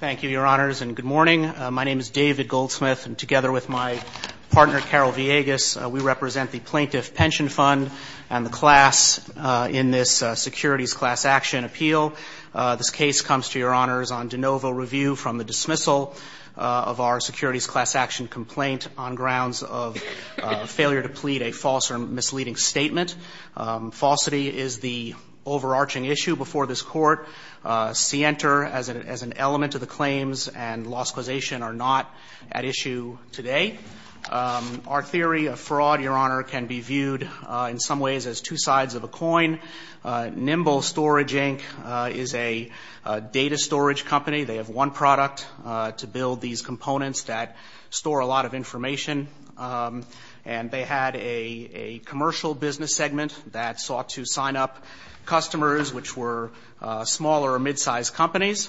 Thank you, Your Honors, and good morning. My name is David Goldsmith, and together with my partner, Carol Villegas, we represent the Plaintiff Pension Fund and the class in this Securities Class Action appeal. This case comes to Your Honors on de novo review from the dismissal of our Securities Class Action complaint on grounds of failure to plead a false or misleading statement. Falsity is the overarching issue before this Court. Sienter, as an element of the claims and loss causation, are not at issue today. Our theory of fraud, Your Honor, can be viewed in some ways as two sides of a coin. Nimble Storage, Inc. is a data storage company. They have one product to build these components that store a lot of information, and they had a commercial business segment that sought to sign up customers which were smaller or mid-sized companies.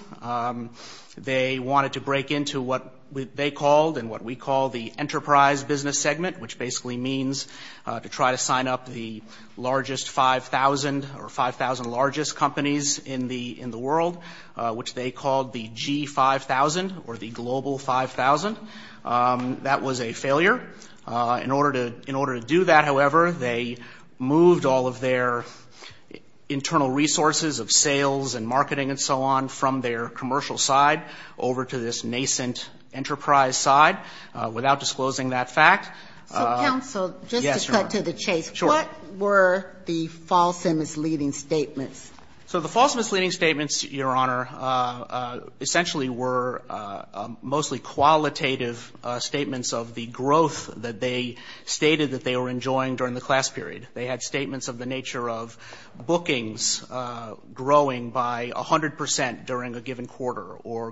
They wanted to break into what they called and what we call the enterprise business segment, which basically means to try to sign up the largest 5,000 or 5,000 largest companies in the world, which they called the G5,000 or the global 5,000. That was a internal resource of sales and marketing and so on from their commercial side over to this nascent enterprise side. Without disclosing that fact, yes, Your Honor. So, counsel, just to cut to the chase. Sure. What were the false and misleading statements? So the false and misleading statements, Your Honor, essentially were mostly qualitative statements of the growth that they stated that they were enjoying during the class period. They had statements of the nature of bookings growing by 100 percent during a given quarter, or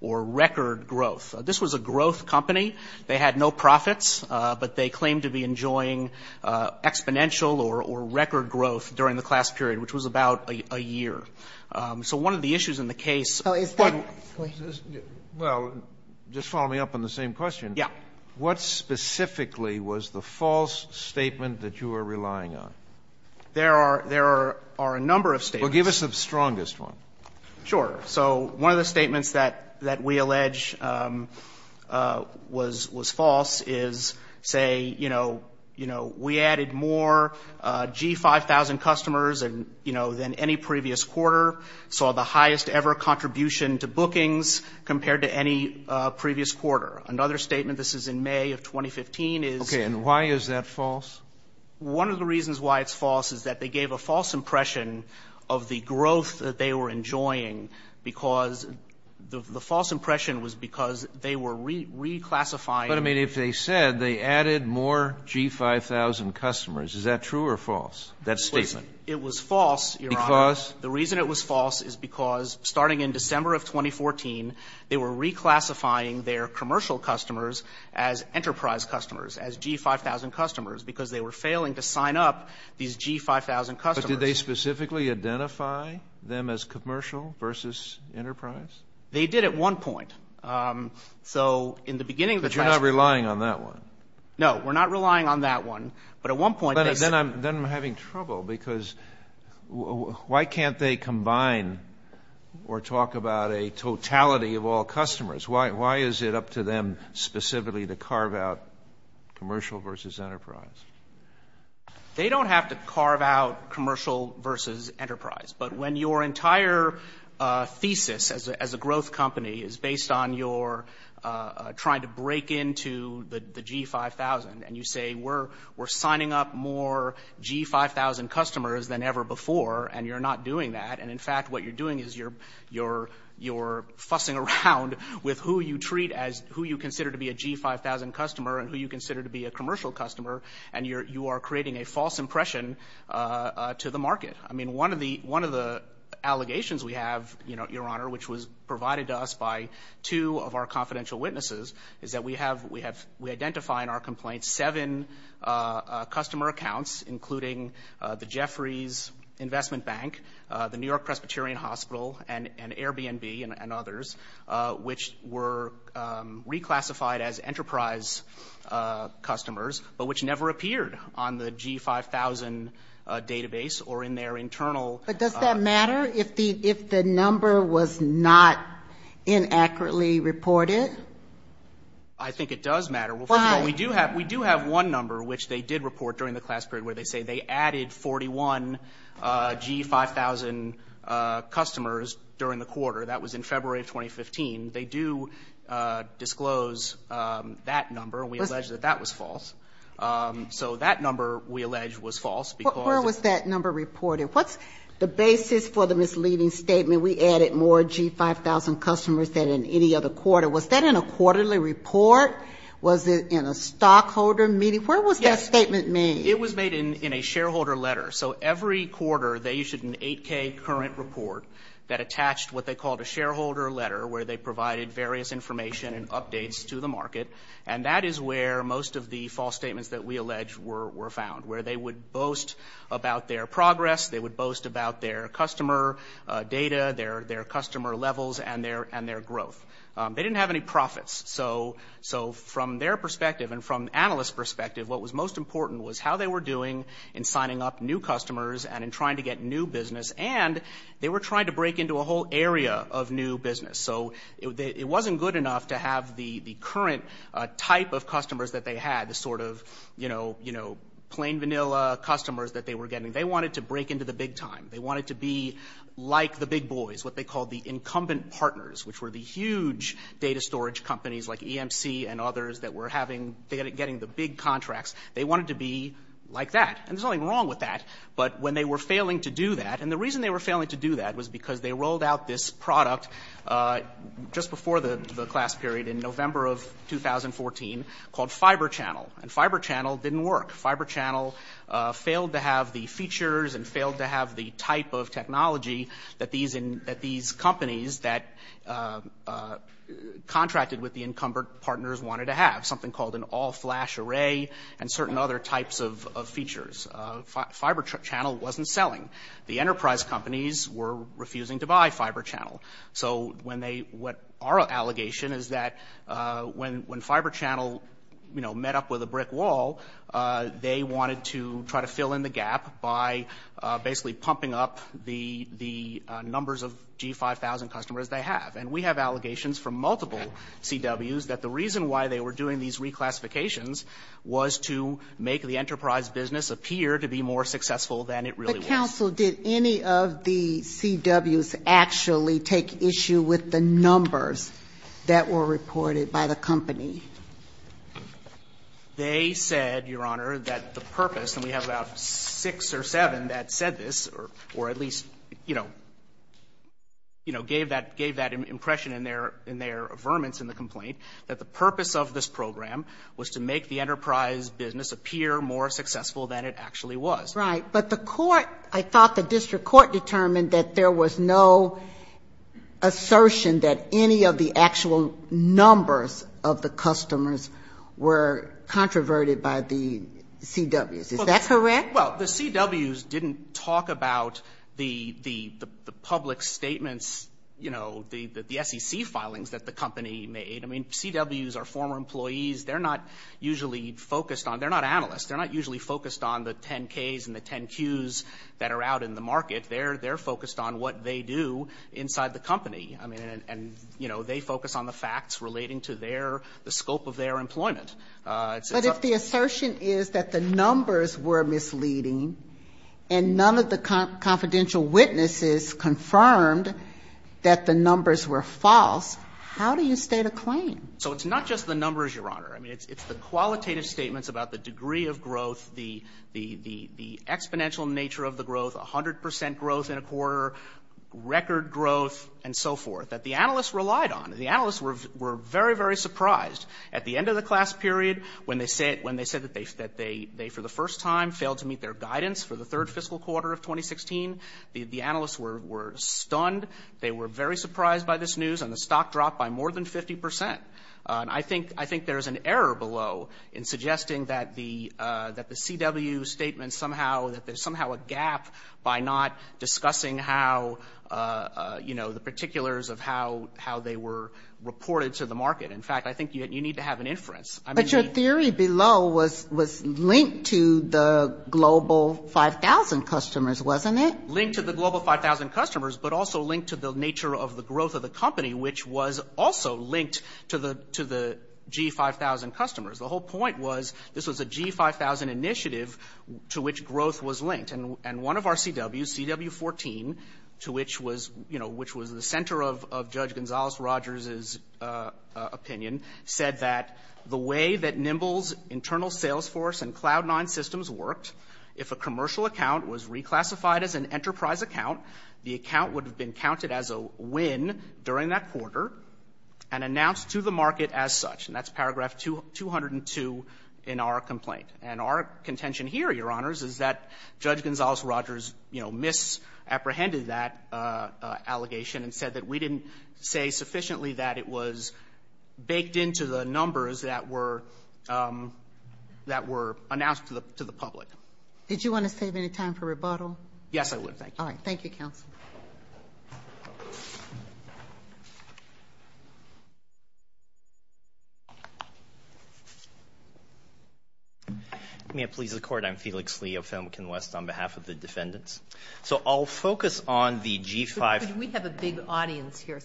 record growth. This was a growth company. They had no profits, but they claimed to be enjoying exponential or record growth during the class period, which was about a year. So one of the issues in the case was that they were misleading statements. Well, just follow me up on the same question. Yeah. What specifically was the false statement that you were relying on? There are a number of statements. Well, give us the strongest one. Sure. So one of the statements that we allege was false is, say, you know, we added more G5,000 customers than any previous quarter, saw the highest ever contribution to bookings compared to any previous quarter. Another statement, this is in May of 2015, is OK. And why is that false? One of the reasons why it's false is that they gave a false impression of the growth that they were enjoying because the false impression was because they were reclassifying. But, I mean, if they said they added more G5,000 customers, is that true or false, that statement? It was false, Your Honor. Because? The reason it was false is because, starting in December of 2014, they were reclassifying their commercial customers as enterprise customers, as G5,000 customers, because they were failing to sign up these G5,000 customers. But did they specifically identify them as commercial versus enterprise? They did at one point. So in the beginning of the time — But you're not relying on that one. No. We're not relying on that one. But at one point — Then I'm having trouble because why can't they combine or talk about a totality of all customers? Why is it up to them specifically to carve out commercial versus enterprise? They don't have to carve out commercial versus enterprise. But when your entire thesis as a growth company is based on your trying to break into the G5,000 and you say, we're signing up more G5,000 customers than ever before, and you're not doing that, and, in fact, what you're doing is you're fussing around with who you treat as — who you consider to be a G5,000 customer and who you consider to be a commercial customer, and you are creating a false impression to the market. I mean, one of the allegations we have, Your Honor, which was provided to us by two of our confidential witnesses, is that we have — we identify in our complaints seven customer accounts, including the Jeffries Investment Bank, the New York Presbyterian Hospital, and Airbnb and others, which were reclassified as enterprise customers, but which never appeared on the G5,000 database or in their internal — I think it does matter. Well, first of all, we do have one number which they did report during the class period where they say they added 41 G5,000 customers during the quarter. That was in February of 2015. They do disclose that number, and we allege that that was false. So that number, we allege, was false because — Where was that number reported? What's the basis for the misleading statement, we added more G5,000 customers than in any other quarter? Was that in a quarterly report? Was it in a stockholder meeting? Where was that statement made? It was made in a shareholder letter. So every quarter, they issued an 8K current report that attached what they called a shareholder letter, where they provided various information and updates to the market. And that is where most of the false statements that we allege were found, where they would boast about their progress, they would boast about their customer data, their customer levels, and their growth. They didn't have any profits. So from their perspective and from an analyst's perspective, what was most important was how they were doing in signing up new customers and in trying to get new business, and they were trying to break into a whole area of new business. So it wasn't good enough to have the current type of customers that they had, the sort of, you know, plain vanilla customers that they were getting. They wanted to break into the big time. They wanted to be like the big boys, what they called the incumbent partners, which were the huge data storage companies like EMC and others that were getting the big contracts. They wanted to be like that. And there's nothing wrong with that. But when they were failing to do that, and the reason they were failing to do that was because they rolled out this product just before the class period in November of 2014 called Fiber Channel, and Fiber Channel didn't work. Fiber Channel failed to have the features and failed to have the type of technology that these companies that contracted with the incumbent partners wanted to have, something called an all-flash array and certain other types of features. Fiber Channel wasn't selling. The enterprise companies were refusing to buy Fiber Channel. So when they, what our allegation is that when Fiber Channel, you know, met up with a brick wall, they wanted to try to fill in the gap by basically pumping up the numbers of G5000 customers they have. And we have allegations from multiple CWs that the reason why they were doing these reclassifications was to make the enterprise business appear to be more successful than it really was. But counsel, did any of the CWs actually take issue with the numbers that were reported by the company? They said, Your Honor, that the purpose, and we have about six or seven that said this, or at least, you know, you know, gave that impression in their affirmance in the complaint, that the purpose of this program was to make the enterprise business appear more successful than it actually was. Right. But the court, I thought the district court determined that there was no assertion that any of the actual numbers of the customers were controverted by the CWs. Is that correct? Well, the CWs didn't talk about the public statements, you know, the SEC filings that the company made. I mean, CWs are former employees. They're not usually focused on, they're not analysts, they're not usually focused on the 10-Ks and the 10-Qs that are out in the market. They're focused on what they do inside the company. I mean, and, you know, they focus on the facts relating to their, the scope of their employment. But if the assertion is that the numbers were misleading and none of the confidential witnesses confirmed that the numbers were false, how do you state a claim? So it's not just the numbers, Your Honor. I mean, it's the qualitative statements about the degree of growth, the exponential nature of the growth, 100 percent growth in a quarter, record growth, and so forth, that the analysts relied on. The analysts were very, very surprised at the end of the class period when they said, when they said that they, for the first time, failed to meet their guidance for the third fiscal quarter of 2016. The analysts were stunned. They were very surprised by this news. And the stock dropped by more than 50 percent. And I think, I think there's an error below in suggesting that the, that the CW statement somehow, that there's somehow a gap by not discussing how, you know, the particulars of how, how they were reported to the market. In fact, I think you need to have an inference. But your theory below was, was linked to the global 5,000 customers, wasn't it? Linked to the global 5,000 customers, but also linked to the nature of the growth of the company, which was also linked to the, to the G5,000 customers. The whole point was, this was a G5,000 initiative to which growth was linked. And one of our CWs, CW14, to which was, you know, which was the center of Judge Gonzales-Rogers' opinion, said that the way that Nimble's internal sales force and Cloud9 systems worked, if a commercial account was reclassified as an enterprise account, the account would have been counted as a win during that quarter and announced to the market as such. And that's paragraph 202 in our complaint. And our contention here, Your Honors, is that Judge Gonzales-Rogers, you know, misapprehended that allegation and said that we didn't say sufficiently that it was baked into the numbers that were, that were announced to the public. Did you want to save any time for rebuttal? Yes, I would, thank you. All right. Thank you, counsel. May it please the Court, I'm Felix Lee of Famicom West, on behalf of the defendants. So I'll focus on the G5. We have a big audience here,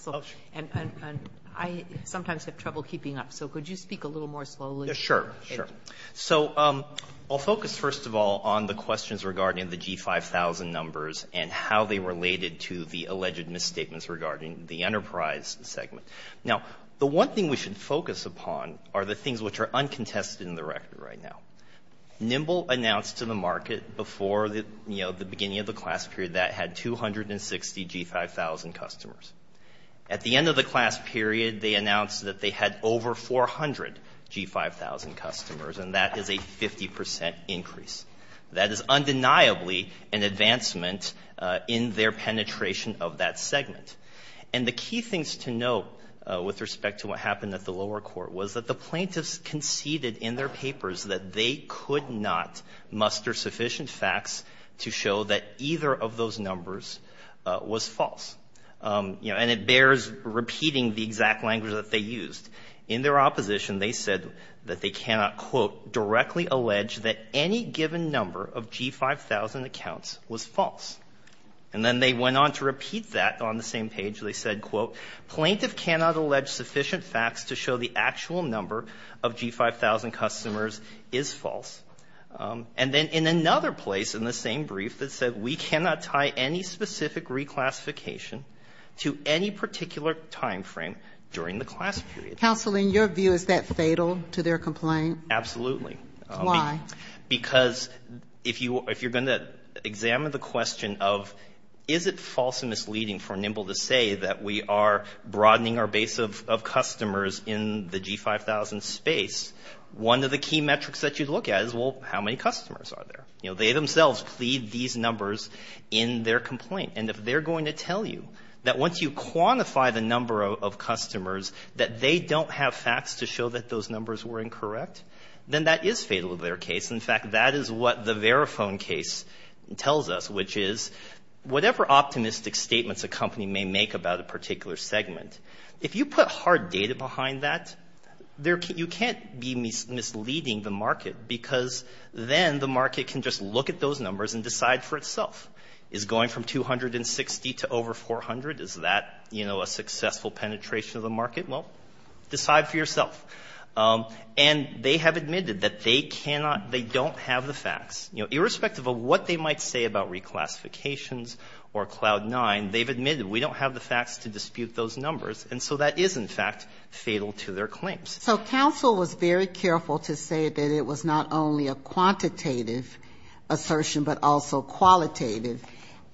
and I sometimes have trouble keeping up. So could you speak a little more slowly? Sure, sure. So I'll focus, first of all, on the questions regarding the G5,000 numbers and how they related to the alleged misstatements regarding the enterprise segment. Now, the one thing we should focus upon are the things which are uncontested in the record right now. Nimble announced to the market before the, you know, the beginning of the class period that it had 260 G5,000 customers. At the end of the class period, they announced that they had over 400 G5,000 customers, and that is a 50 percent increase. That is undeniably an advancement in their penetration of that segment. And the key things to note with respect to what happened at the lower court was that the plaintiffs conceded in their papers that they could not muster sufficient facts to show that either of those numbers was false. You know, and it bears repeating the exact language that they used. In their opposition, they said that they cannot, quote, directly allege that any given number of G5,000 accounts was false. And then they went on to repeat that on the same page. They said, quote, plaintiff cannot allege sufficient facts to show the actual number of G5,000 customers is false. And then in another place in the same brief that said we cannot tie any specific reclassification to any particular time frame during the class period. Counseling, your view, is that fatal to their complaint? Absolutely. Why? Because if you're going to examine the question of is it false and misleading for Nimble to say that we are broadening our base of customers in the G5,000 space, one of the key metrics that you'd look at is, well, how many customers are there? You know, they themselves plead these numbers in their complaint. And if they're going to tell you that once you quantify the number of customers that they don't have facts to show that those numbers were incorrect, then that is fatal to their case. In fact, that is what the Verifone case tells us, which is whatever optimistic statements a company may make about a particular segment, if you put hard data behind that, you can't be misleading the market because then the market can just look at those numbers and decide for itself. Is going from 260 to over 400, is that, you know, a successful penetration of the market? Well, decide for yourself. And they have admitted that they cannot, they don't have the facts. You know, irrespective of what they might say about reclassifications or Cloud 9, they've admitted we don't have the facts to dispute those numbers. And so that is, in fact, fatal to their claims. So counsel was very careful to say that it was not only a quantitative assertion, but also qualitative,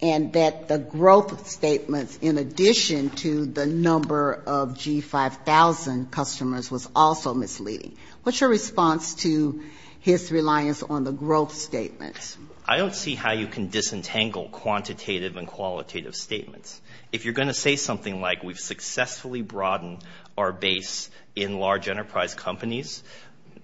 and that the growth statements in addition to the number of G5000 customers was also misleading. What's your response to his reliance on the growth statements? I don't see how you can disentangle quantitative and qualitative statements. If you're going to say something like we've successfully broadened our base in large enterprise companies,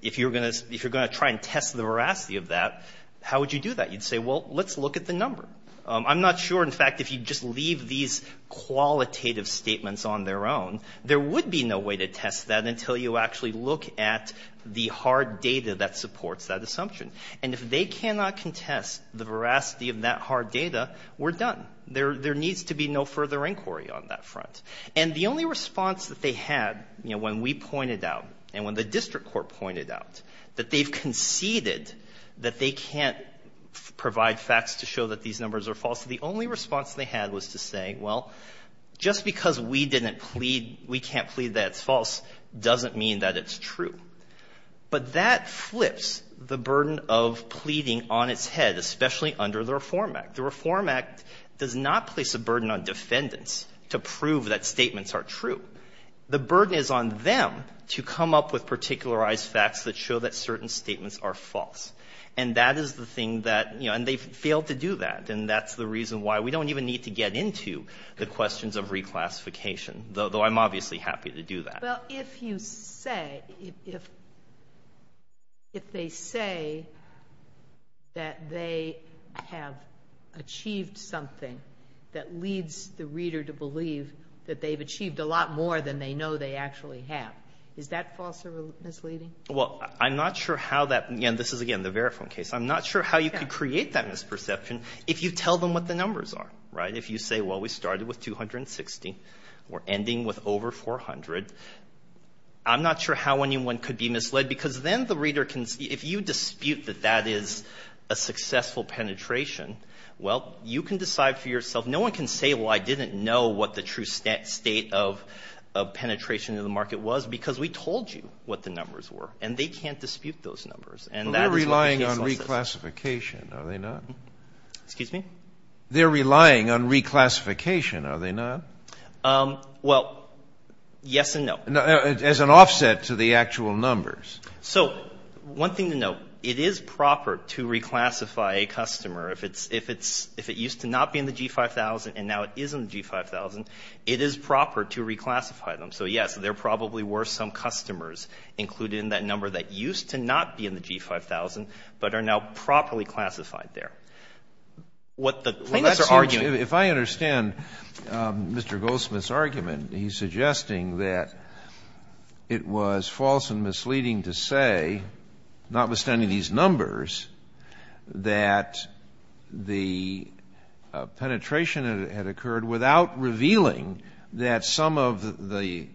if you're going to, if you're going to try and test the veracity of that, how would you do that? You'd say, well, let's look at the number. I'm not sure, in fact, if you just leave these qualitative statements on their own, there would be no way to test that until you actually look at the hard data that supports that assumption. And if they cannot contest the veracity of that hard data, we're done. There needs to be no further inquiry on that front. And the only response that they had, you know, when we pointed out and when the district court pointed out that they've conceded that they can't provide facts to show that these numbers are false, the only response they had was to say, well, just because we didn't plead, we can't plead that it's false doesn't mean that it's true. But that flips the burden of pleading on its head, especially under the Reform Act. The Reform Act does not place a burden on defendants to prove that statements are true. The burden is on them to come up with particularized facts that show that certain statements are false. And that is the thing that, you know, and they failed to do that. And that's the reason why we don't even need to get into the questions of reclassification, though I'm obviously happy to do that. Well, if you say, if they say that they have achieved something that leads the reader to believe that they've achieved a lot more than they know they actually have, is that false or misleading? Well, I'm not sure how that, and this is, again, the Veriform case, I'm not sure how you could create that misperception if you tell them what the numbers are, right? If you say, well, we started with 260, we're ending with over 400, I'm not sure how anyone could be misled, because then the reader can, if you dispute that that is a successful penetration, well, you can decide for yourself. No one can say, well, I didn't know what the true state of penetration of the market was, because we told you what the numbers were. And they can't dispute those numbers. But we're relying on reclassification, are they not? Excuse me? They're relying on reclassification, are they not? Well, yes and no. As an offset to the actual numbers. So one thing to note, it is proper to reclassify a customer if it used to not be in the G5000 and now it is in the G5000, it is proper to reclassify them. So yes, there probably were some customers included in that number that used to not be in the G5000, but are now properly classified there. What the plaintiffs are arguing If I understand Mr. Goldsmith's argument, he's suggesting that it was false and misleading to say, notwithstanding these numbers, that the penetration had occurred without revealing that some of the,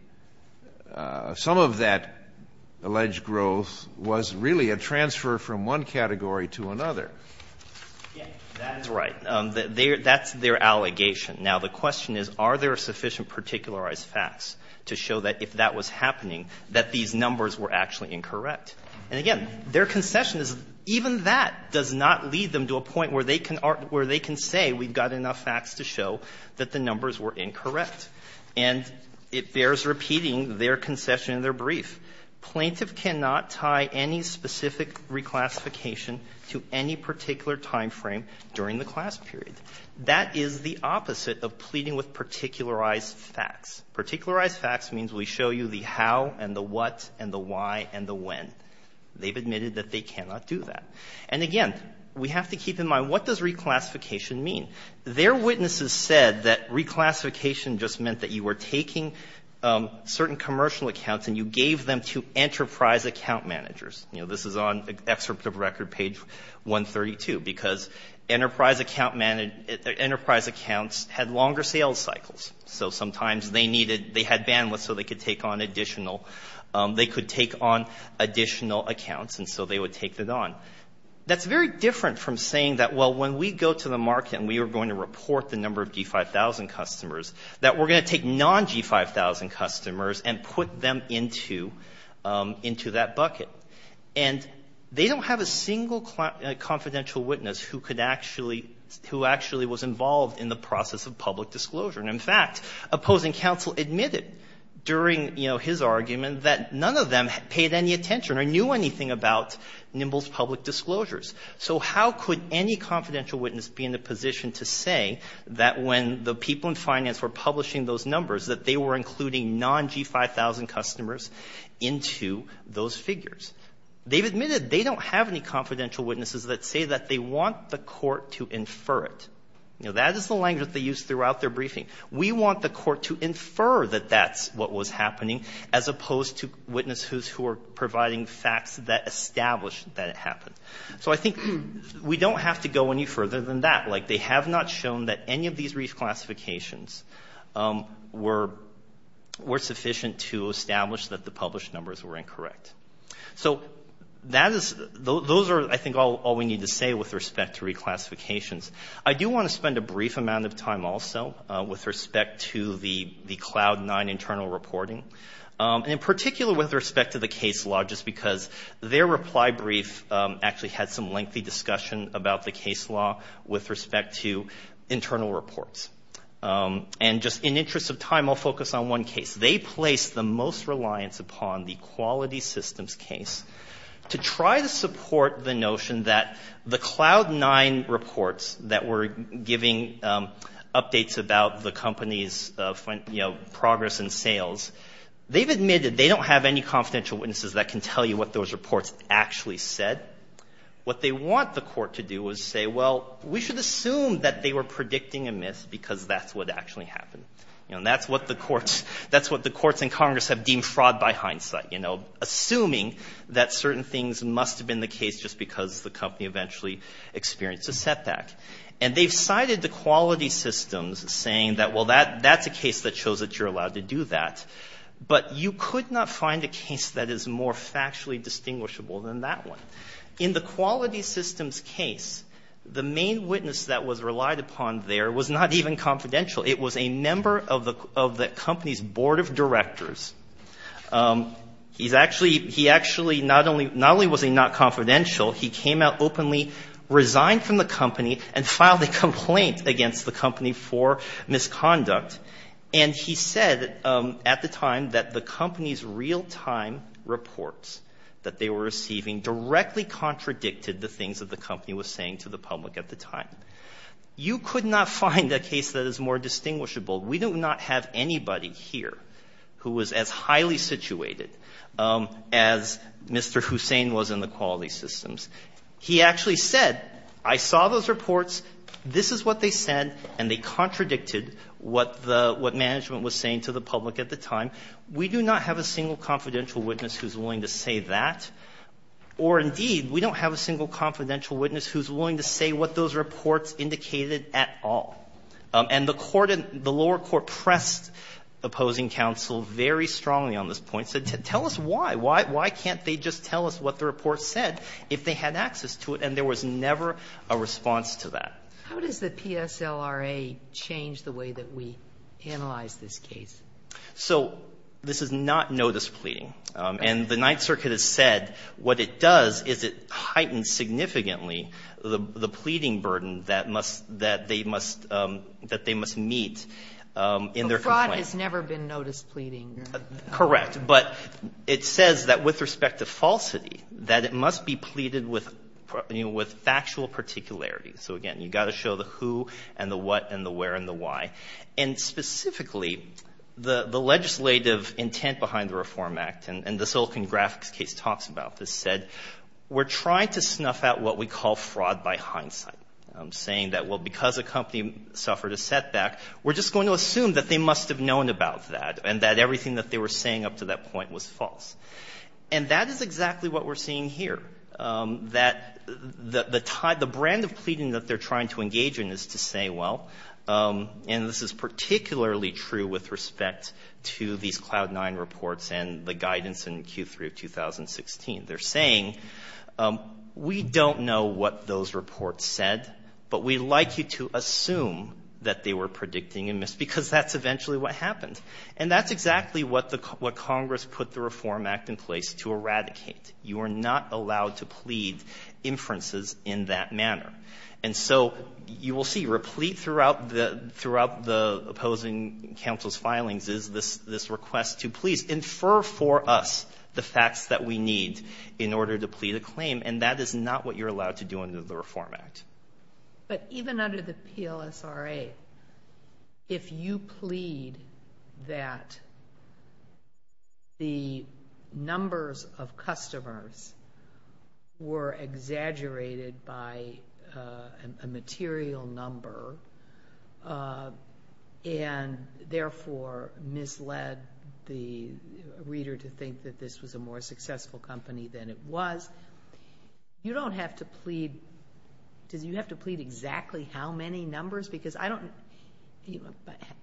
some of that alleged growth was really a transfer from one category to another. Yes, that is right. That's their allegation. Now, the question is, are there sufficient particularized facts to show that if that was happening, that these numbers were actually incorrect? And again, their concession is, even that does not lead them to a point where they can say we've got enough facts to show that the numbers were incorrect. And it bears repeating their concession in their brief. Plaintiff cannot tie any specific reclassification to any particular time frame during the class period. That is the opposite of pleading with particularized facts. Particularized facts means we show you the how and the what and the why and the when. They've admitted that they cannot do that. And again, we have to keep in mind, what does reclassification mean? Their witnesses said that reclassification just meant that you were taking certain commercial accounts and you gave them to enterprise account managers. You know, this is on excerpt of record page 132, because enterprise accounts had longer sales cycles. So sometimes they needed, they had bandwidth so they could take on additional, they could take on additional accounts and so they would take it on. That's very different from saying that, well, when we go to the market and we are going to report the number of G5,000 customers, that we're going to take non-G5,000 customers and put them into that bucket. And they don't have a single confidential witness who could actually, who actually was involved in the process of public disclosure. And in fact, opposing counsel admitted during, you know, his argument that none of them had paid any attention or knew anything about Nimble's public disclosures. So how could any confidential witness be in a position to say that when the people in finance were publishing those numbers, that they were including non-G5,000 customers into those figures? They've admitted they don't have any confidential witnesses that say that they want the court to infer it. You know, that is the language that they use throughout their briefing. We want the court to infer that that's what was happening as opposed to witnesses who are providing facts that establish that it happened. So I think we don't have to go any further than that. Like, they have not shown that any of these reclassifications were, were sufficient to establish that the published numbers were incorrect. So that is, those are I think all we need to say with respect to reclassifications. I do want to spend a brief amount of time also with respect to the, the Cloud 9 internal reporting. And in particular with respect to the case law, just because their reply brief actually had some lengthy discussion about the case law with respect to internal reports. And just in interest of time, I'll focus on one case. They placed the most reliance upon the quality systems case to try to support the notion that the Cloud 9 reports that were giving updates about the company's, you know, progress in sales. They've admitted they don't have any confidential witnesses that can tell you what those reports actually said. What they want the court to do is say, well, we should assume that they were predicting a myth because that's what actually happened. You know, that's what the courts, that's what the courts in Congress have deemed fraud by hindsight. You know, assuming that certain things must have been the case just because the company eventually experienced a setback. And they've cited the quality systems saying that, well, that, that's a case that shows that you're allowed to do that. But you could not find a case that is more factually distinguishable than that one. In the quality systems case, the main witness that was relied upon there was not even confidential. It was a member of the, of the company's board of directors. He's actually, he actually not only, not confidential, he came out openly, resigned from the company, and filed a complaint against the company for misconduct. And he said at the time that the company's real-time reports that they were receiving directly contradicted the things that the company was saying to the public at the time. You could not find a case that is more distinguishable. We do not have anybody here who was as willing to say that. Or indeed, we don't have a single confidential witness who's willing to say what those reports indicated at all. And the court in, the lower court pressed opposing counsel very strongly on this point, said, tell us why. Why, why can't they just tell us what the reports indicated? And the lower court pressed what these reports said if they had access to it, and there was never a response Sotomayor How does the PSLRA change the way that we analyze this case? Marquis So, this is not notice pleading, and the Ninth Circuit has said what it does is it heightens significantly the pleading burden that must, that they must sozusagen Marquis ...meet in their complaint. Sotomayor The broad has never been notice pleading, you 're saying? Marquis Correct. But it says that with respect to it must be pleaded with factual particularities. So, again, you've got to show the who, and the what, and the where, and the why. And specifically, the legislative intent behind the Reform Act, and the Silicon Graphics case talks about this, said we're trying to snuff out what we call fraud by hindsight. I'm saying that, well, because a company suffered a setback, we're just going to assume that they must have known about that, and that everything that they were saying up to that point was false. And that is exactly what we're seeing here, that the brand of pleading that they're trying to engage in is to say, well, and this is particularly true with respect to these Cloud 9 reports and the guidance in Q3 of 2016. They're saying, we don't know what those reports said, but we'd like you to assume that they were predicting a miss, because that's eventually what happened. And that's exactly what Congress put the Reform Act in place to eradicate. You are not allowed to plead inferences in that manner. And so, you will see, replete throughout the opposing counsel's filings is this request to please infer for us the facts that we need in order to plead a claim, and that is not what you're allowed to do under the Reform Act. But even under the PLSRA, if you plead that the numbers of customers were exaggerated by a material number, and therefore misled the reader to think that this was a more successful company than it was, you don't have to plead, you have to plead exactly how many numbers, because I don't,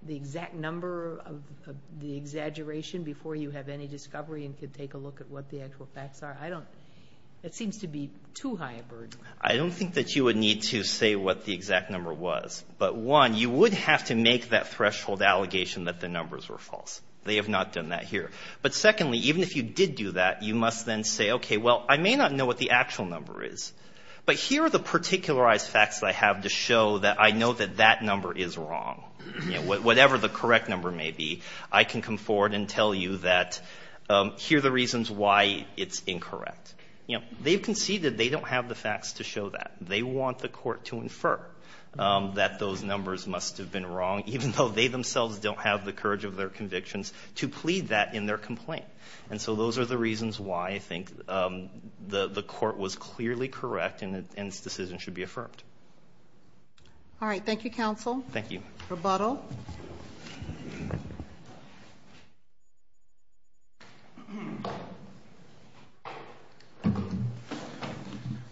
the exact number of the exaggeration before you have any discovery and can take a look at what the actual facts are, I don't, it seems to be too high a burden. I don't think that you would need to say what the exact number was. But one, you would have to make that threshold allegation that the numbers were false. They have not done that here. But secondly, even if you did do that, you must then say, okay, well, I may not know what the actual number is, but here are the particularized facts that I have to show that I know that that number is wrong. Whatever the correct number may be, I can come forward and tell you that here are the reasons why it's incorrect. You know, they've conceded they don't have the facts to show that. They want the court to infer that those numbers must have been wrong, even though they themselves don't have the courage of their convictions, to plead that in their complaint. And so those are the reasons why I think the court was clearly correct and this decision should be affirmed. All right. Thank you, counsel. Thank you. Rebuttal.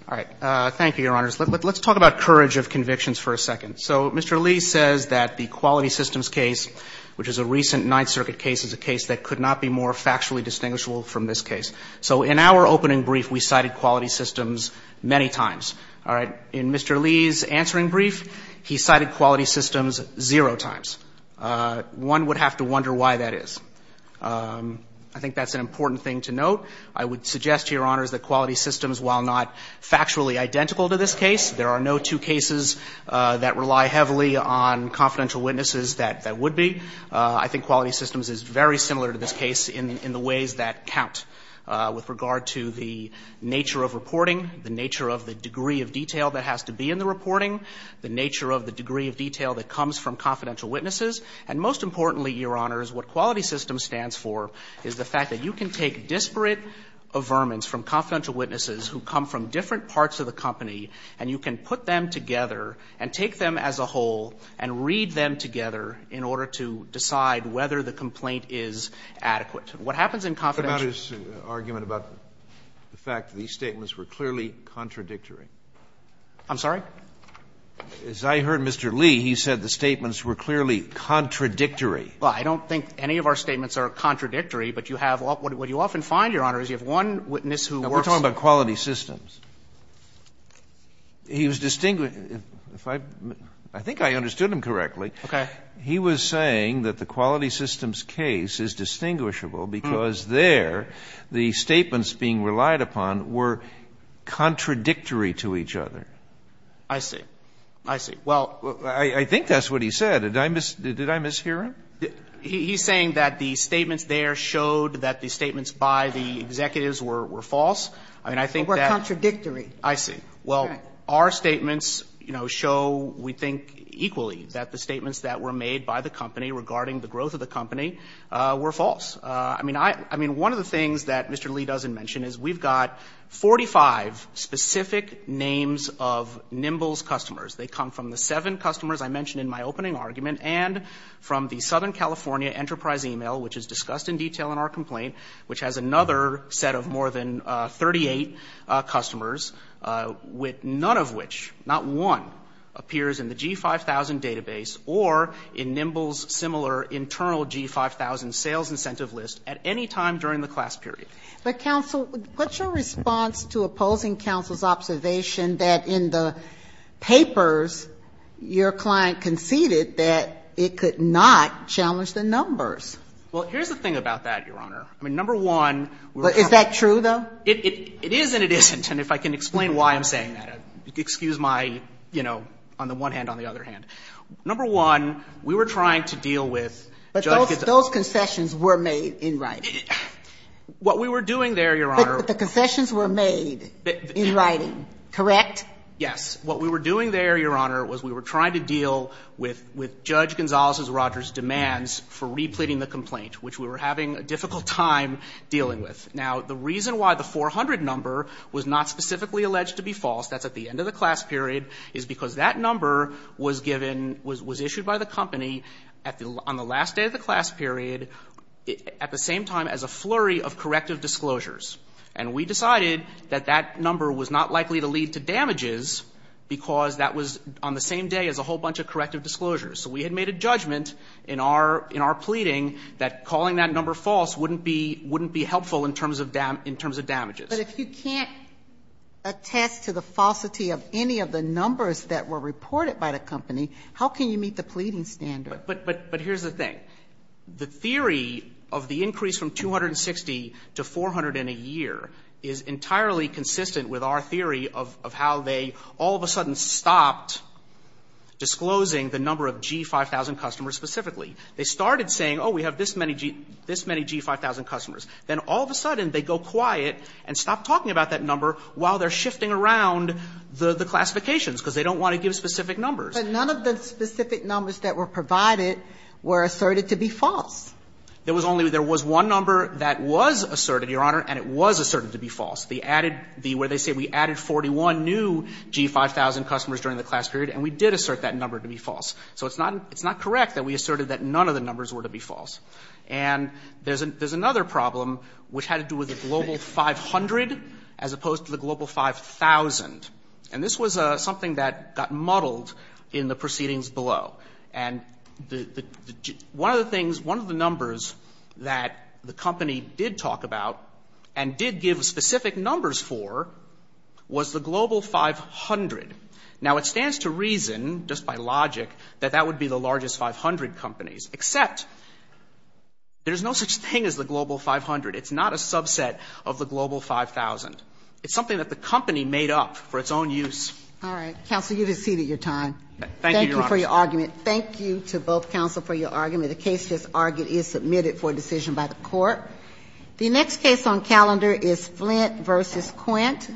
All right. Thank you, Your Honors. Let's talk about courage of convictions for a second. So Mr. Lee says that the Quality Systems case, which is a recent Ninth Circuit case, is a case that could not be more factually distinguishable from this case. So in our opening brief, we cited Quality Systems many times. All right. In Mr. Lee's answering brief, he cited Quality Systems zero times. One would have to wonder why that is. I think that's an important thing to note. I would suggest to Your Honors that Quality Systems, while not factually identical to this case, there are no two cases that rely heavily on confidential witnesses that would be. I think Quality Systems is very similar to this case in the ways that count with regard to the nature of reporting, the nature of the degree of detail that has to be in the reporting, the nature of the degree of detail that comes from confidential witnesses. And most importantly, Your Honors, what Quality Systems stands for is the fact that you can take disparate averments from confidential witnesses who come from different parts of the company, and you can put them together and take them as a whole and read them together in order to decide whether the complaint is adequate. What happens in confidential ---- Kennedy, what about his argument about the fact that these statements were clearly contradictory? I'm sorry? As I heard Mr. Lee, he said the statements were clearly contradictory. Well, I don't think any of our statements are contradictory, but you have all of them. What you often find, Your Honors, is you have one witness who works ---- He was distinguishing ---- I think I understood him correctly. Okay. He was saying that the Quality Systems case is distinguishable because there the statements being relied upon were contradictory to each other. I see. I see. Well ---- I think that's what he said. Did I mishear him? He's saying that the statements there showed that the statements by the executives were false. I mean, I think that ---- Contradictory. I see. Well, our statements, you know, show, we think, equally, that the statements that were made by the company regarding the growth of the company were false. I mean, I ---- I mean, one of the things that Mr. Lee doesn't mention is we've got 45 specific names of Nimble's customers. They come from the seven customers I mentioned in my opening argument and from the Southern California Enterprise e-mail, which is discussed in detail in our complaint, which has another set of more than 38 customers, with none of which, not one, appears in the G-5000 database or in Nimble's similar internal G-5000 sales incentive list at any time during the class period. But, counsel, what's your response to opposing counsel's observation that in the papers your client conceded that it could not challenge the numbers? Well, here's the thing about that, Your Honor. I mean, number one, we were trying to ---- Is that true, though? It is and it isn't. And if I can explain why I'm saying that, excuse my, you know, on the one hand, on the other hand. Number one, we were trying to deal with Judge Gonzalez. But those concessions were made in writing. What we were doing there, Your Honor ---- But the concessions were made in writing, correct? Yes. What we were doing there, Your Honor, was we were trying to deal with Judge Gonzalez Rogers' demands for repleting the complaint, which we were having a difficult time dealing with. Now, the reason why the 400 number was not specifically alleged to be false, that's at the end of the class period, is because that number was given, was issued by the company on the last day of the class period, at the same time as a flurry of corrective disclosures. And we decided that that number was not likely to lead to damages because that was on the same day as a whole bunch of corrective disclosures. So we had made a judgment in our pleading that calling that number false wouldn't be helpful in terms of damages. But if you can't attest to the falsity of any of the numbers that were reported by the company, how can you meet the pleading standard? But here's the thing. The theory of the increase from 260 to 400 in a year is entirely consistent with our theory of how they all of a sudden stopped disclosing the number of G5000 customers specifically. They started saying, oh, we have this many G5000 customers. Then all of a sudden, they go quiet and stop talking about that number while they're shifting around the classifications because they don't want to give specific numbers. But none of the specific numbers that were provided were asserted to be false. There was only one number that was asserted, Your Honor, and it was asserted to be false. The added, where they say we added 41 new G5000 customers during the class period, and we did assert that number to be false. So it's not correct that we asserted that none of the numbers were to be false. And there's another problem which had to do with the global 500 as opposed to the global 5,000. And this was something that got muddled in the proceedings below. And the one of the things, one of the numbers that the company did talk about and did give specific numbers for was the global 500. Now, it stands to reason, just by logic, that that would be the largest 500 companies, except there's no such thing as the global 500. It's not a subset of the global 5,000. It's something that the company made up for its own use. All right. Thank you, Your Honor. Thank you to both counsel for your argument. The case just argued is submitted for decision by the court. The next case on calendar is Flint v. Quint.